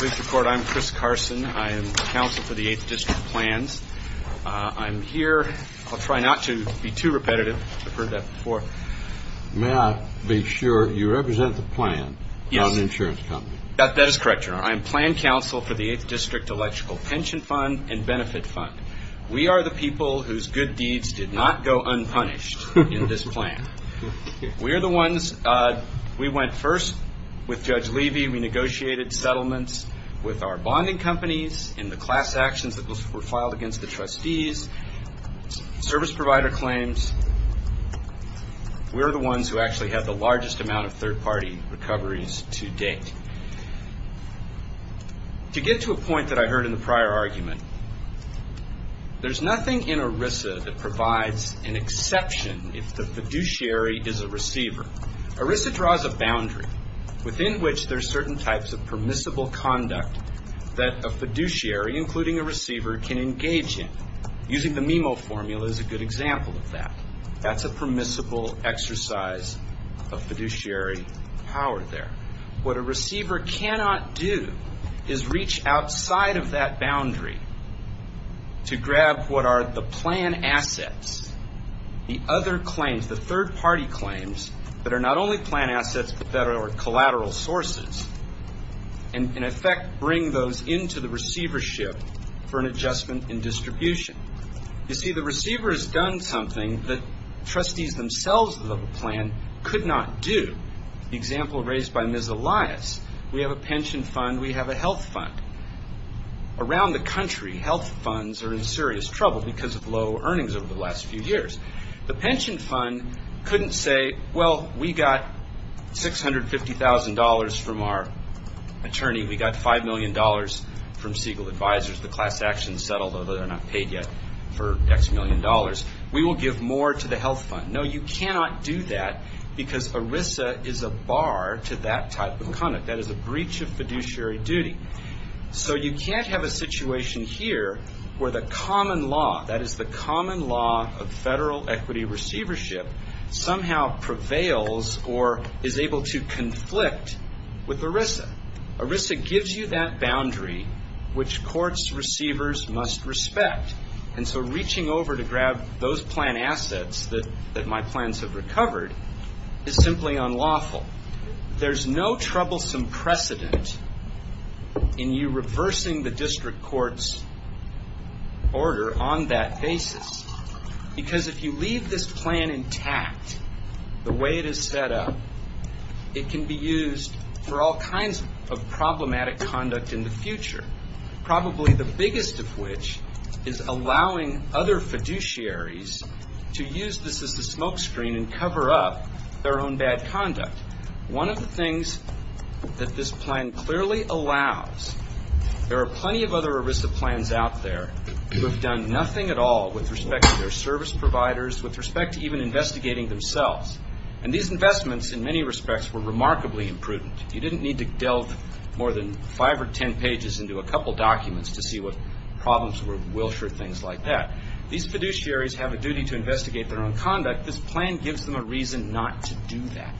I'm Chris Carson. I'm Counsel for the 8th District Plans. I'm here, I'll try not to be too repetitive. I've heard that before. May I be sure you represent the plan, not an insurance company? That is correct, Your Honor. I am Plan Counsel for the 8th District Electrical Pension Fund and Benefit Fund. We are the people whose good deeds did not go unpunished in this plan. We are the ones, we went first with Judge Levy, we negotiated settlements with our bonding companies and the class actions that were filed against the trustees, service provider claims. We are the ones who actually had the largest amount of third party recoveries to date. To get to a point that I heard in the prior argument, there's nothing in ERISA that provides an exception if the fiduciary is a receiver. ERISA draws a boundary within which there's certain types of permissible conduct that a fiduciary, including a receiver, can engage in. Using the MIMO formula is a good example of that. That's a permissible exercise of fiduciary power there. What a receiver cannot do is reach outside of that boundary to grab what are the plan assets, the other claims, the third party claims, that are not only plan assets but that are collateral sources, and in effect bring those into the receivership for an adjustment in distribution. You see, the receiver has done something that trustees themselves of the plan could not do. The example raised by Ms. Elias, we have a pension fund, we have a health fund. Around the country, health funds are in serious trouble because of low earnings over the last few years. The pension fund couldn't say, well, we got $650,000 from our attorney, we got $5 million from Siegel Advisors, the class actions settled, although they're not paid yet, for X million dollars. We will give more to the health fund. No, you cannot do that because ERISA is a bar to that type of conduct. That is a breach of fiduciary duty. So you can't have a situation here where the common law, that is the common law of federal equity receivership, somehow prevails or is able to conflict with ERISA. ERISA gives you that boundary which courts receivers must respect. And so reaching over to grab those plan assets that my plans have recovered is simply unlawful. There's no troublesome precedent in you reversing the district court's order on that basis. Because if you leave this plan intact, the way it is set up, it can be used for all kinds of problematic conduct in the future, probably the biggest of which is allowing other fiduciaries to use this as a smoke screen and cover up their own bad conduct. One of the things that this plan clearly allows, there are plenty of other ERISA plans out there who have done nothing at all with respect to their service providers, with respect to even investigating themselves. And these investments in many respects were remarkably imprudent. You didn't need to delve more than five or ten pages into a couple documents to see what problems were, Wilshire, things like that. These fiduciaries have a duty to investigate their own conduct. This plan gives them a reason not to do that.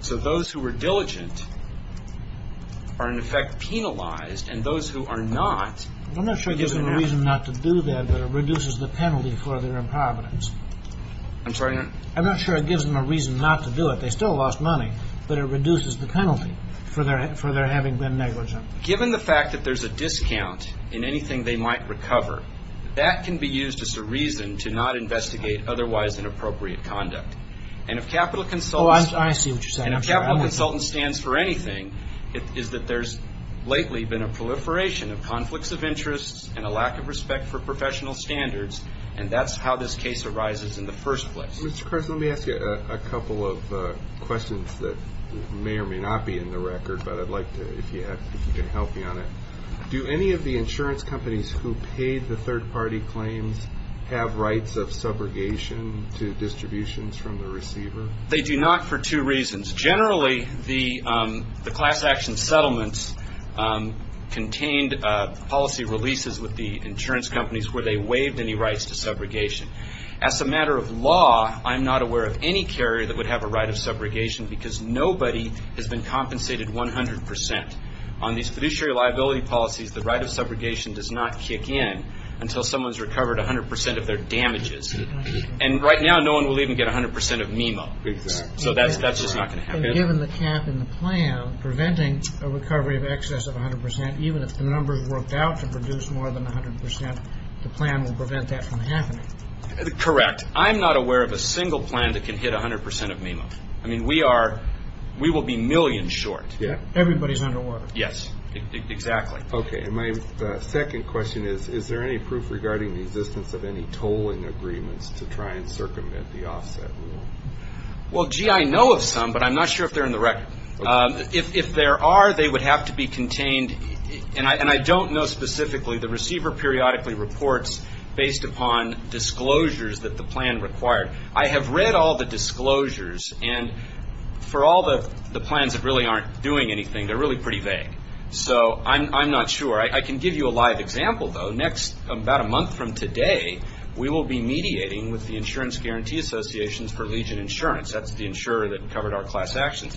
So those who were diligent are in effect penalized, and those who are not I'm not sure it gives them a reason not to do that, but it reduces the penalty for their improvidence. I'm sorry? I'm not sure it gives them a reason not to do it. They still lost money, but it reduces the penalty for their having been negligent. Given the fact that there's a discount in anything they might recover, that can be used as a reason to not investigate otherwise inappropriate conduct. And if capital consultants Oh, I see what you're saying. stands for anything is that there's lately been a proliferation of conflicts of interest and a lack of respect for professional standards, and that's how this case arises in the first place. Mr. Carson, let me ask you a couple of questions that may or may not be in the record, but I'd like to, if you can help me on it. Do any of the insurance companies who paid the third-party claims have rights of subrogation to distributions from the receiver? They do not for two reasons. Generally, the class action settlements contained policy releases with the insurance companies where they waived any rights to subrogation. As a matter of law, I'm not aware of any carrier that would have a right of subrogation because nobody has been compensated 100%. On these fiduciary liability policies, the right of subrogation does not kick in until someone's recovered 100% of their damages. And right now, no one will even get 100% of MIMO, so that's just not going to happen. Given the cap in the plan preventing a recovery of excess of 100%, even if the numbers worked out to produce more than 100%, the plan will prevent that from happening. Correct. I'm not aware of a single plan that can hit 100% of MIMO. I mean, we will be millions short. Everybody's under water. Yes, exactly. Okay, and my second question is, is there any proof regarding the existence of any tolling agreements to try and circumvent the offset rule? Well, gee, I know of some, but I'm not sure if they're in the record. If there are, they would have to be contained, and I don't know specifically. The receiver periodically reports based upon disclosures that the plan required. I have read all the disclosures, and for all the plans that really aren't doing anything, they're really pretty vague. So I'm not sure. I can give you a live example, though. About a month from today, we will be mediating with the Insurance Guarantee Associations for Legion Insurance. That's the insurer that covered our class actions.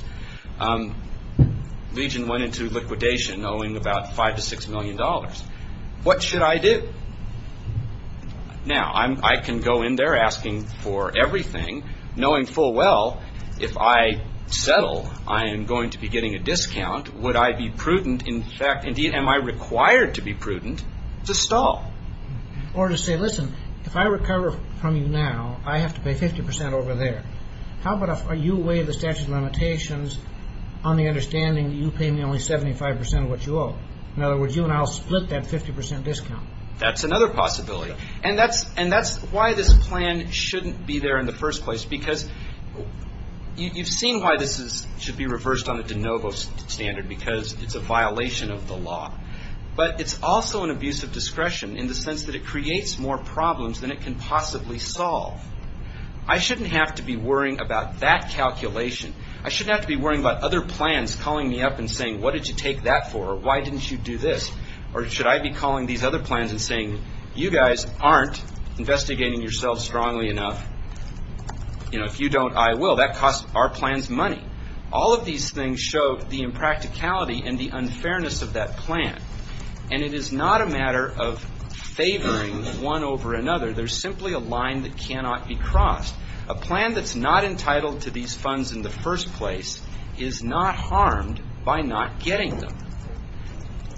Legion went into liquidation owing about $5 million to $6 million. What should I do? Now, I can go in there asking for everything, knowing full well, if I settle, I am going to be getting a discount. Would I be prudent? In fact, indeed, am I required to be prudent to stall? Or to say, listen, if I recover from you now, I have to pay 50% over there. How about if you weigh the statute of limitations on the understanding that you pay me only 75% of what you owe? In other words, you and I will split that 50% discount. That's another possibility. And that's why this plan shouldn't be there in the first place, because you've seen why this should be reversed on the de novo standard, because it's a violation of the law. But it's also an abuse of discretion in the sense that it creates more problems than it can possibly solve. I shouldn't have to be worrying about that calculation. I shouldn't have to be worrying about other plans calling me up and saying, what did you take that for? Why didn't you do this? Or should I be calling these other plans and saying, you guys aren't investigating yourselves strongly enough. If you don't, I will. That costs our plans money. All of these things show the impracticality and the unfairness of that plan. And it is not a matter of favoring one over another. There's simply a line that cannot be crossed. A plan that's not entitled to these funds in the first place is not harmed by not getting them.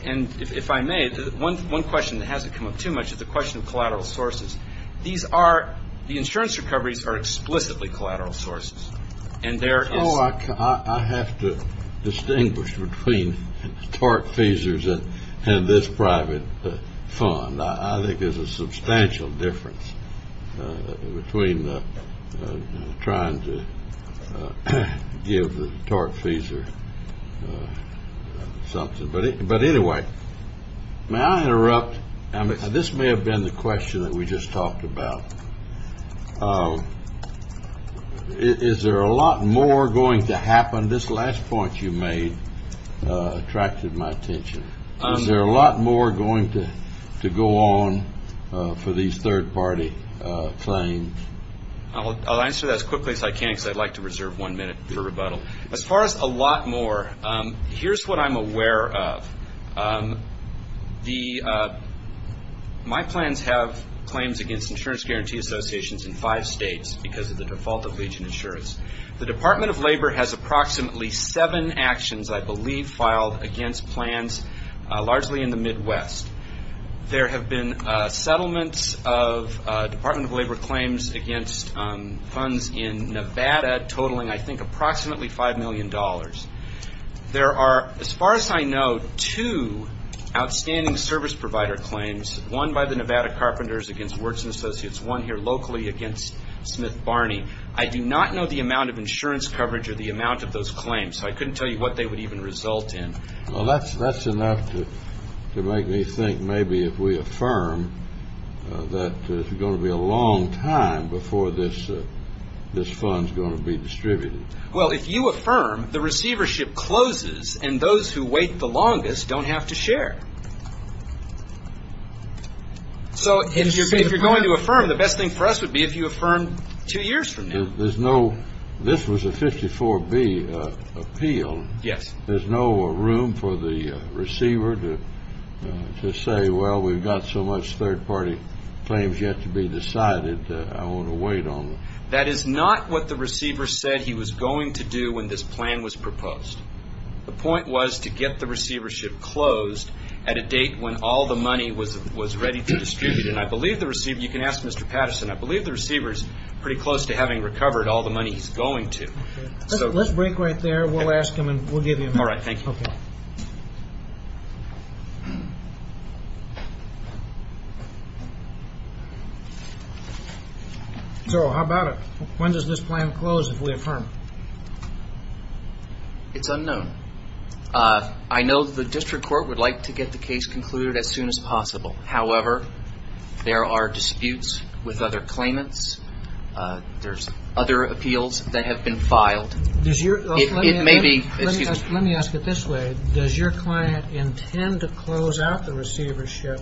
And if I may, one question that hasn't come up too much is the question of collateral sources. These are, the insurance recoveries are explicitly collateral sources. And there is. Oh, I have to distinguish between TORC feesers and this private fund. I think there's a substantial difference between trying to give the TORC feeser something. But anyway, may I interrupt? This may have been the question that we just talked about. Is there a lot more going to happen? This last point you made attracted my attention. Is there a lot more going to go on for these third-party claims? I'll answer that as quickly as I can because I'd like to reserve one minute for rebuttal. As far as a lot more, here's what I'm aware of. My plans have claims against insurance guarantee associations in five states because of the default of Legion Insurance. The Department of Labor has approximately seven actions, I believe, filed against plans largely in the Midwest. There have been settlements of Department of Labor claims against funds in Nevada, totaling, I think, approximately $5 million. There are, as far as I know, two outstanding service provider claims, one by the Nevada Carpenters against Wertz & Associates, one here locally against Smith Barney. I do not know the amount of insurance coverage or the amount of those claims, so I couldn't tell you what they would even result in. Well, that's enough to make me think maybe if we affirm that there's going to be a long time before this fund is going to be distributed. Well, if you affirm, the receivership closes and those who wait the longest don't have to share. So if you're going to affirm, the best thing for us would be if you affirm two years from now. There's no – this was a 54-B appeal. Yes. There's no room for the receiver to say, well, we've got so much third-party claims yet to be decided, I want to wait on them. That is not what the receiver said he was going to do when this plan was proposed. The point was to get the receivership closed at a date when all the money was ready to distribute. And I believe the receiver – you can ask Mr. Patterson. I believe the receiver is pretty close to having recovered all the money he's going to. Let's break right there. We'll ask him and we'll give you a minute. All right, thank you. Okay. So how about it? When does this plan close if we affirm? It's unknown. I know the district court would like to get the case concluded as soon as possible. However, there are disputes with other claimants. There's other appeals that have been filed. Let me ask it this way. Does your client intend to close out the receivership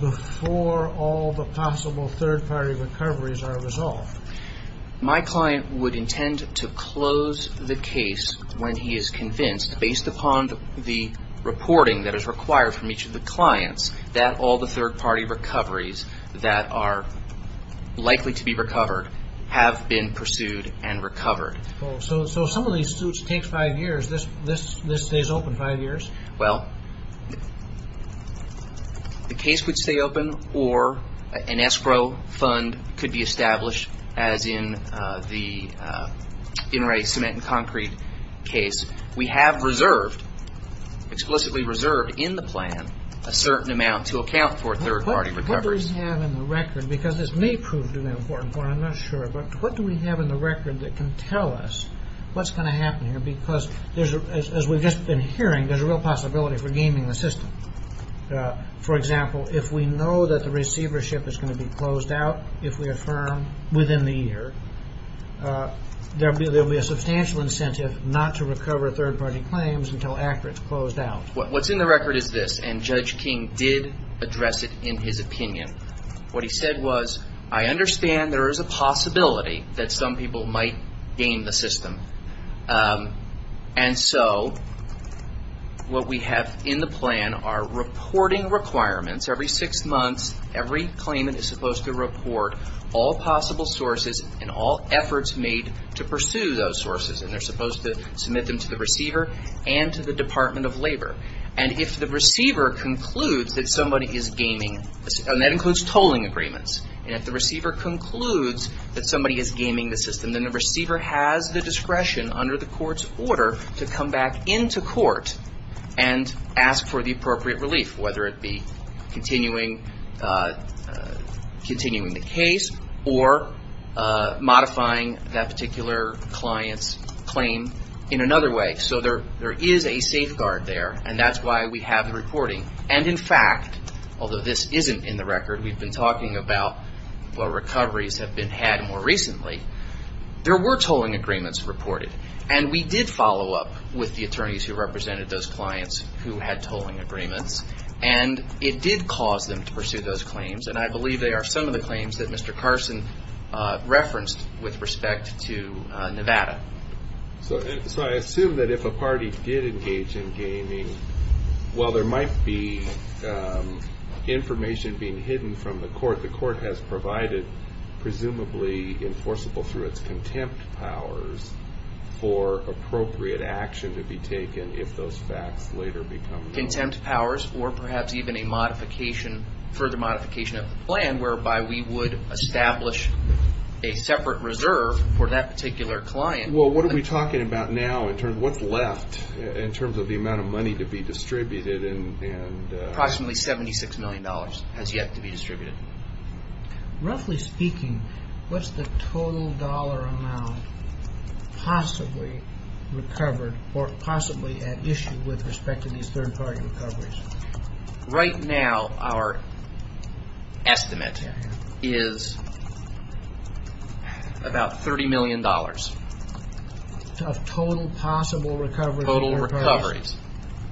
before all the possible third-party recoveries are resolved? My client would intend to close the case when he is convinced, based upon the reporting that is required from each of the clients, that all the third-party recoveries that are likely to be recovered have been pursued and recovered. So some of these suits take five years. This stays open five years? Well, the case would stay open or an escrow fund could be established, as in the in-right cement and concrete case. We have reserved, explicitly reserved in the plan, a certain amount to account for third-party recoveries. What do we have in the record? Because this may prove to be an important point. I'm not sure. But what do we have in the record that can tell us what's going to happen here? Because as we've just been hearing, there's a real possibility for gaming the system. For example, if we know that the receivership is going to be closed out if we affirm within the year, there will be a substantial incentive not to recover third-party claims until after it's closed out. What's in the record is this, and Judge King did address it in his opinion. What he said was, I understand there is a possibility that some people might game the system. And so what we have in the plan are reporting requirements. Every six months, every claimant is supposed to report all possible sources and all efforts made to pursue those sources. And they're supposed to submit them to the receiver and to the Department of Labor. And if the receiver concludes that somebody is gaming, and that includes tolling agreements, and if the receiver concludes that somebody is gaming the system, then the receiver has the discretion under the court's order to come back into court and ask for the appropriate relief, whether it be continuing the case or modifying that particular client's claim in another way. So there is a safeguard there, and that's why we have the reporting. And in fact, although this isn't in the record, we've been talking about what recoveries have been had more recently, there were tolling agreements reported. And we did follow up with the attorneys who represented those clients who had tolling agreements. And it did cause them to pursue those claims, and I believe they are some of the claims that Mr. Carson referenced with respect to Nevada. So I assume that if a party did engage in gaming, while there might be information being hidden from the court, the court has provided presumably enforceable through its contempt powers for appropriate action to be taken if those facts later become known. Contempt powers or perhaps even a further modification of the plan whereby we would establish a separate reserve for that particular client. Well, what are we talking about now in terms of what's left in terms of the amount of money to be distributed? Approximately $76 million has yet to be distributed. Roughly speaking, what's the total dollar amount possibly recovered or possibly at issue with respect to these third party recoveries? Right now, our estimate is about $30 million. Of total possible recoveries? Total recoveries.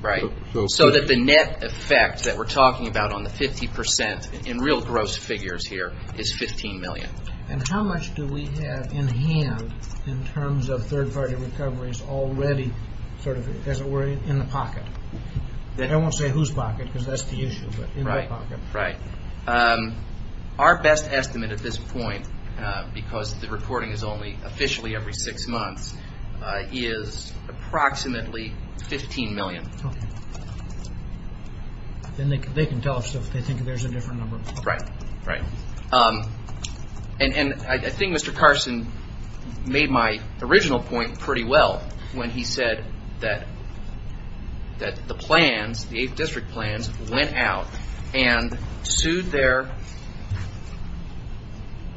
Right, so that the net effect that we're talking about on the 50 percent in real gross figures here is $15 million. And how much do we have in hand in terms of third party recoveries already sort of, as it were, in the pocket? I won't say whose pocket because that's the issue, but in the pocket. Right, right. Our best estimate at this point, because the reporting is only officially every six months, is approximately $15 million. Then they can tell us if they think there's a different number. Right, right. And I think Mr. Carson made my original point pretty well when he said that the plans, the Eighth District plans, went out and sued their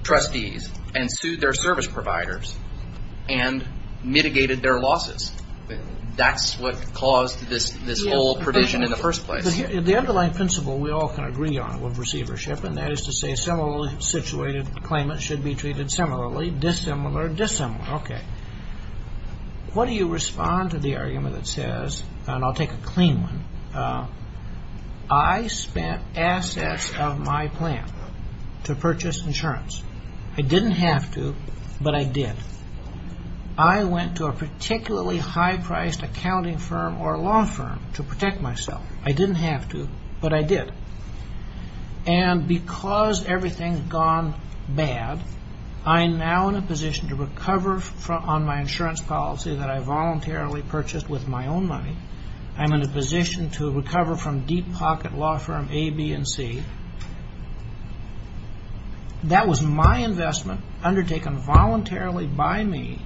trustees and sued their service providers and mitigated their losses. That's what caused this whole provision in the first place. The underlying principle we all can agree on with receivership, and that is to say similarly situated claimants should be treated similarly, dissimilar, dissimilar. Okay. What do you respond to the argument that says, and I'll take a clean one, I spent assets of my plan to purchase insurance. I didn't have to, but I did. I went to a particularly high-priced accounting firm or a law firm to protect myself. I didn't have to, but I did. And because everything's gone bad, I'm now in a position to recover on my insurance policy that I voluntarily purchased with my own money. I'm in a position to recover from deep pocket law firm A, B, and C. That was my investment undertaken voluntarily by me.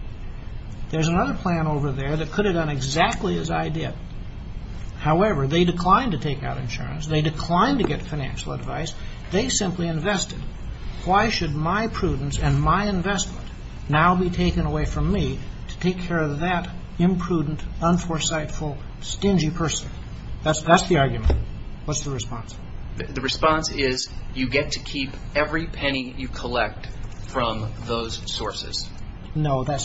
There's another plan over there that could have done exactly as I did. However, they declined to take out insurance. They declined to get financial advice. They simply invested. Why should my prudence and my investment now be taken away from me to take care of that imprudent, unforesightful, stingy person? That's the argument. What's the response? The response is you get to keep every penny you collect from those sources. No, that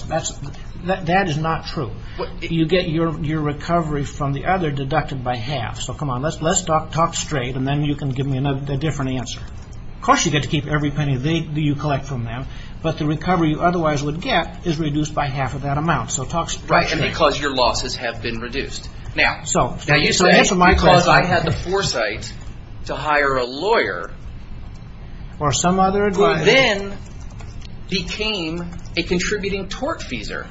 is not true. You get your recovery from the other deducted by half. So come on, let's talk straight, and then you can give me a different answer. Of course you get to keep every penny you collect from them, but the recovery you otherwise would get is reduced by half of that amount. So talk straight. Right, and because your losses have been reduced. Now, you say because I had the foresight to hire a lawyer. Or some other advisor. Who then became a contributing tortfeasor.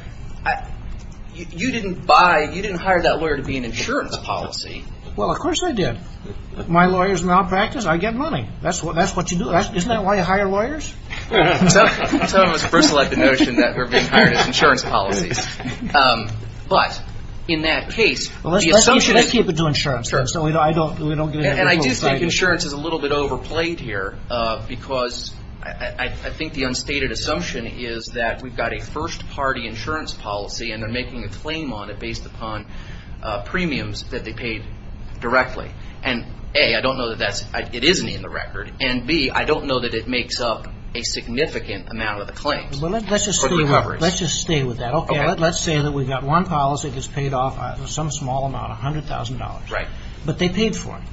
You didn't hire that lawyer to be an insurance policy. Well, of course I did. My lawyers malpractice, I get money. That's what you do. Isn't that why you hire lawyers? Some of us first like the notion that we're being hired as insurance policies. But in that case. Let's keep it to insurance. And I do think insurance is a little bit overplayed here, because I think the unstated assumption is that we've got a first party insurance policy, and they're making a claim on it based upon premiums that they paid directly. And A, I don't know that it isn't in the record. And B, I don't know that it makes up a significant amount of the claims. Let's just stay with that. Okay, let's say that we've got one policy that's paid off some small amount, $100,000. But they paid for it.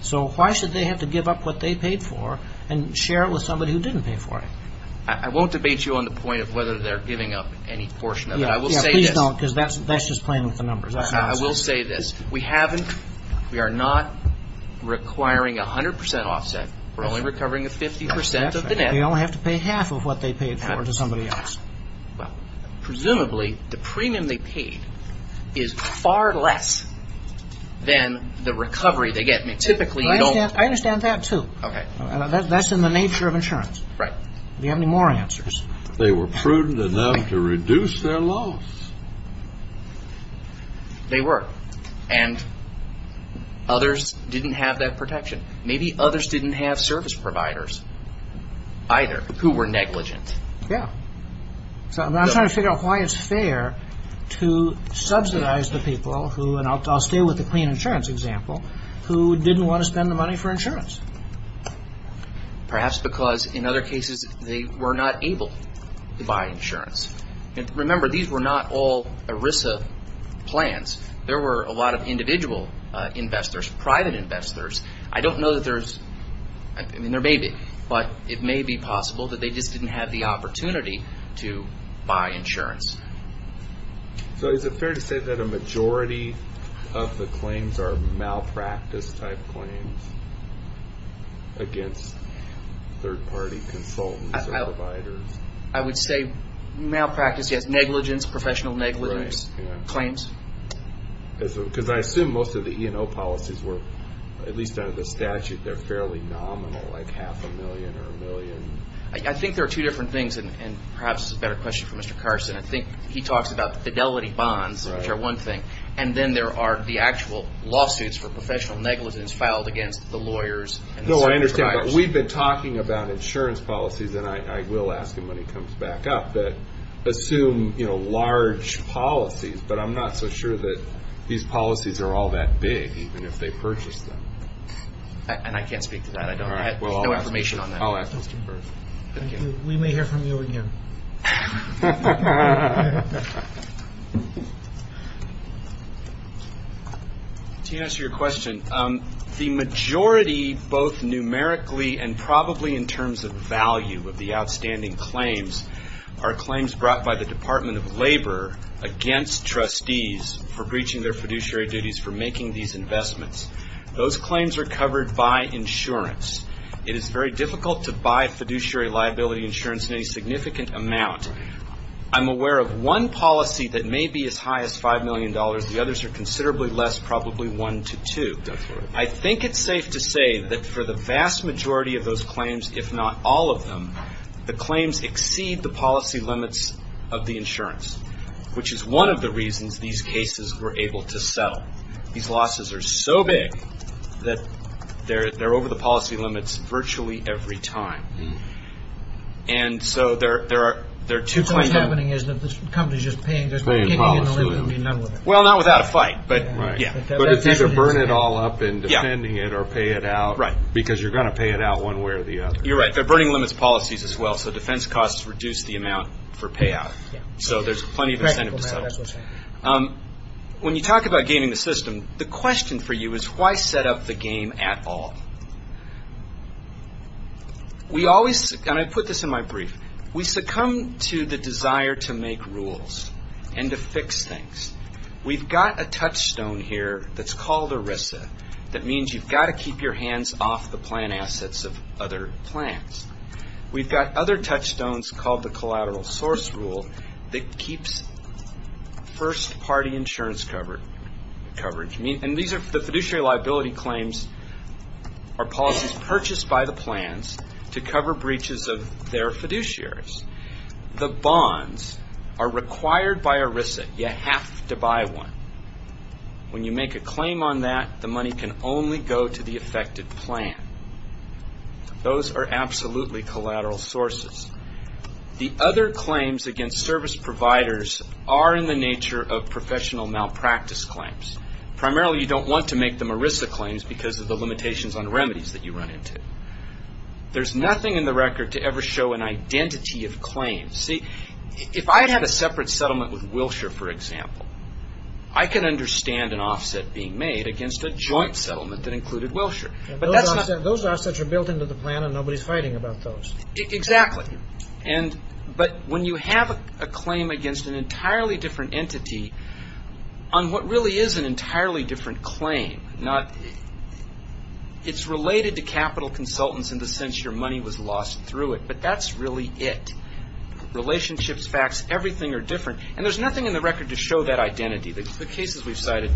So why should they have to give up what they paid for and share it with somebody who didn't pay for it? I won't debate you on the point of whether they're giving up any portion of it. I will say this. Yeah, please don't, because that's just playing with the numbers. I will say this. We haven't. We are not requiring 100% offset. We're only recovering 50% of the net. They only have to pay half of what they paid for to somebody else. Presumably, the premium they paid is far less than the recovery they get. Typically, you don't... I understand that, too. Okay. That's in the nature of insurance. Right. Do you have any more answers? They were prudent enough to reduce their loss. They were. And others didn't have that protection. Maybe others didn't have service providers either who were negligent. Yeah. So I'm trying to figure out why it's fair to subsidize the people who, and I'll stay with the clean insurance example, who didn't want to spend the money for insurance. Perhaps because, in other cases, they were not able to buy insurance. Remember, these were not all ERISA plans. There were a lot of individual investors, private investors. I don't know that there's... I mean, there may be. But it may be possible that they just didn't have the opportunity to buy insurance. So is it fair to say that a majority of the claims are malpractice-type claims against third-party consultants or providers? I would say malpractice, yes. Negligence, professional negligence claims. Because I assume most of the E&O policies were, at least under the statute, they're fairly nominal, like half a million or a million. I think there are two different things, and perhaps this is a better question for Mr. Carson. I think he talks about the fidelity bonds, which are one thing, and then there are the actual lawsuits for professional negligence filed against the lawyers and the service providers. No, I understand, but we've been talking about insurance policies, and I will ask him when he comes back up, that assume large policies, but I'm not so sure that these policies are all that big, even if they purchase them. And I can't speak to that. I don't have information on that. We may hear from you again. To answer your question, the majority, both numerically and probably in terms of value, of the outstanding claims are claims brought by the Department of Labor against trustees for breaching their fiduciary duties for making these investments. Those claims are covered by insurance. It is very difficult to buy fiduciary liability insurance in any significant amount. I'm aware of one policy that may be as high as $5 million. The others are considerably less, probably one to two. I think it's safe to say that for the vast majority of those claims, if not all of them, the claims exceed the policy limits of the insurance, which is one of the reasons these cases were able to settle. But these losses are so big that they're over the policy limits virtually every time. And so there are two claims. What's happening is that the company's just paying policy limits. Well, not without a fight. But it's either burn it all up and defending it or pay it out, because you're going to pay it out one way or the other. You're right. They're burning limits policies as well, so defense costs reduce the amount for payout. So there's plenty of incentive to settle. When you talk about gaming the system, the question for you is why set up the game at all? We always, and I put this in my brief, we succumb to the desire to make rules and to fix things. We've got a touchstone here that's called ERISA, that means you've got to keep your hands off the plan assets of other plans. We've got other touchstones called the collateral source rule that keeps first-party insurance coverage. And these are the fiduciary liability claims or policies purchased by the plans to cover breaches of their fiduciaries. The bonds are required by ERISA. You have to buy one. When you make a claim on that, the money can only go to the affected plan. Those are absolutely collateral sources. The other claims against service providers are in the nature of professional malpractice claims. Primarily, you don't want to make them ERISA claims because of the limitations on remedies that you run into. There's nothing in the record to ever show an identity of claims. See, if I had a separate settlement with Wilshire, for example, I could understand an offset being made against a joint settlement that included Wilshire. Those offsets are built into the plan and nobody's fighting about those. Exactly. But when you have a claim against an entirely different entity on what really is an entirely different claim, it's related to capital consultants in the sense your money was lost through it. But that's really it. Relationships, facts, everything are different. And there's nothing in the record to show that identity. The cases we've cited...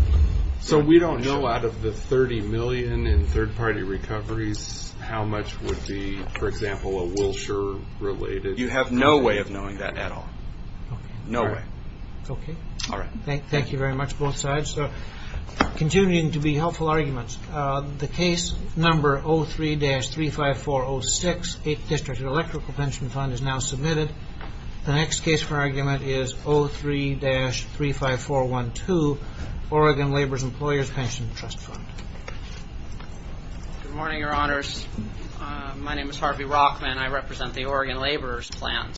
So we don't know out of the $30 million in third-party recoveries how much would be, for example, a Wilshire-related... You have no way of knowing that at all. No way. Okay. All right. Thank you very much, both sides. Continuing to be helpful arguments. The case number 03-35406, 8th District Electrical Pension Fund, is now submitted. The next case for argument is 03-35412, Oregon Laborers' Employers' Pension Trust Fund. Good morning, Your Honors. My name is Harvey Rockman. I represent the Oregon Laborers' Plans.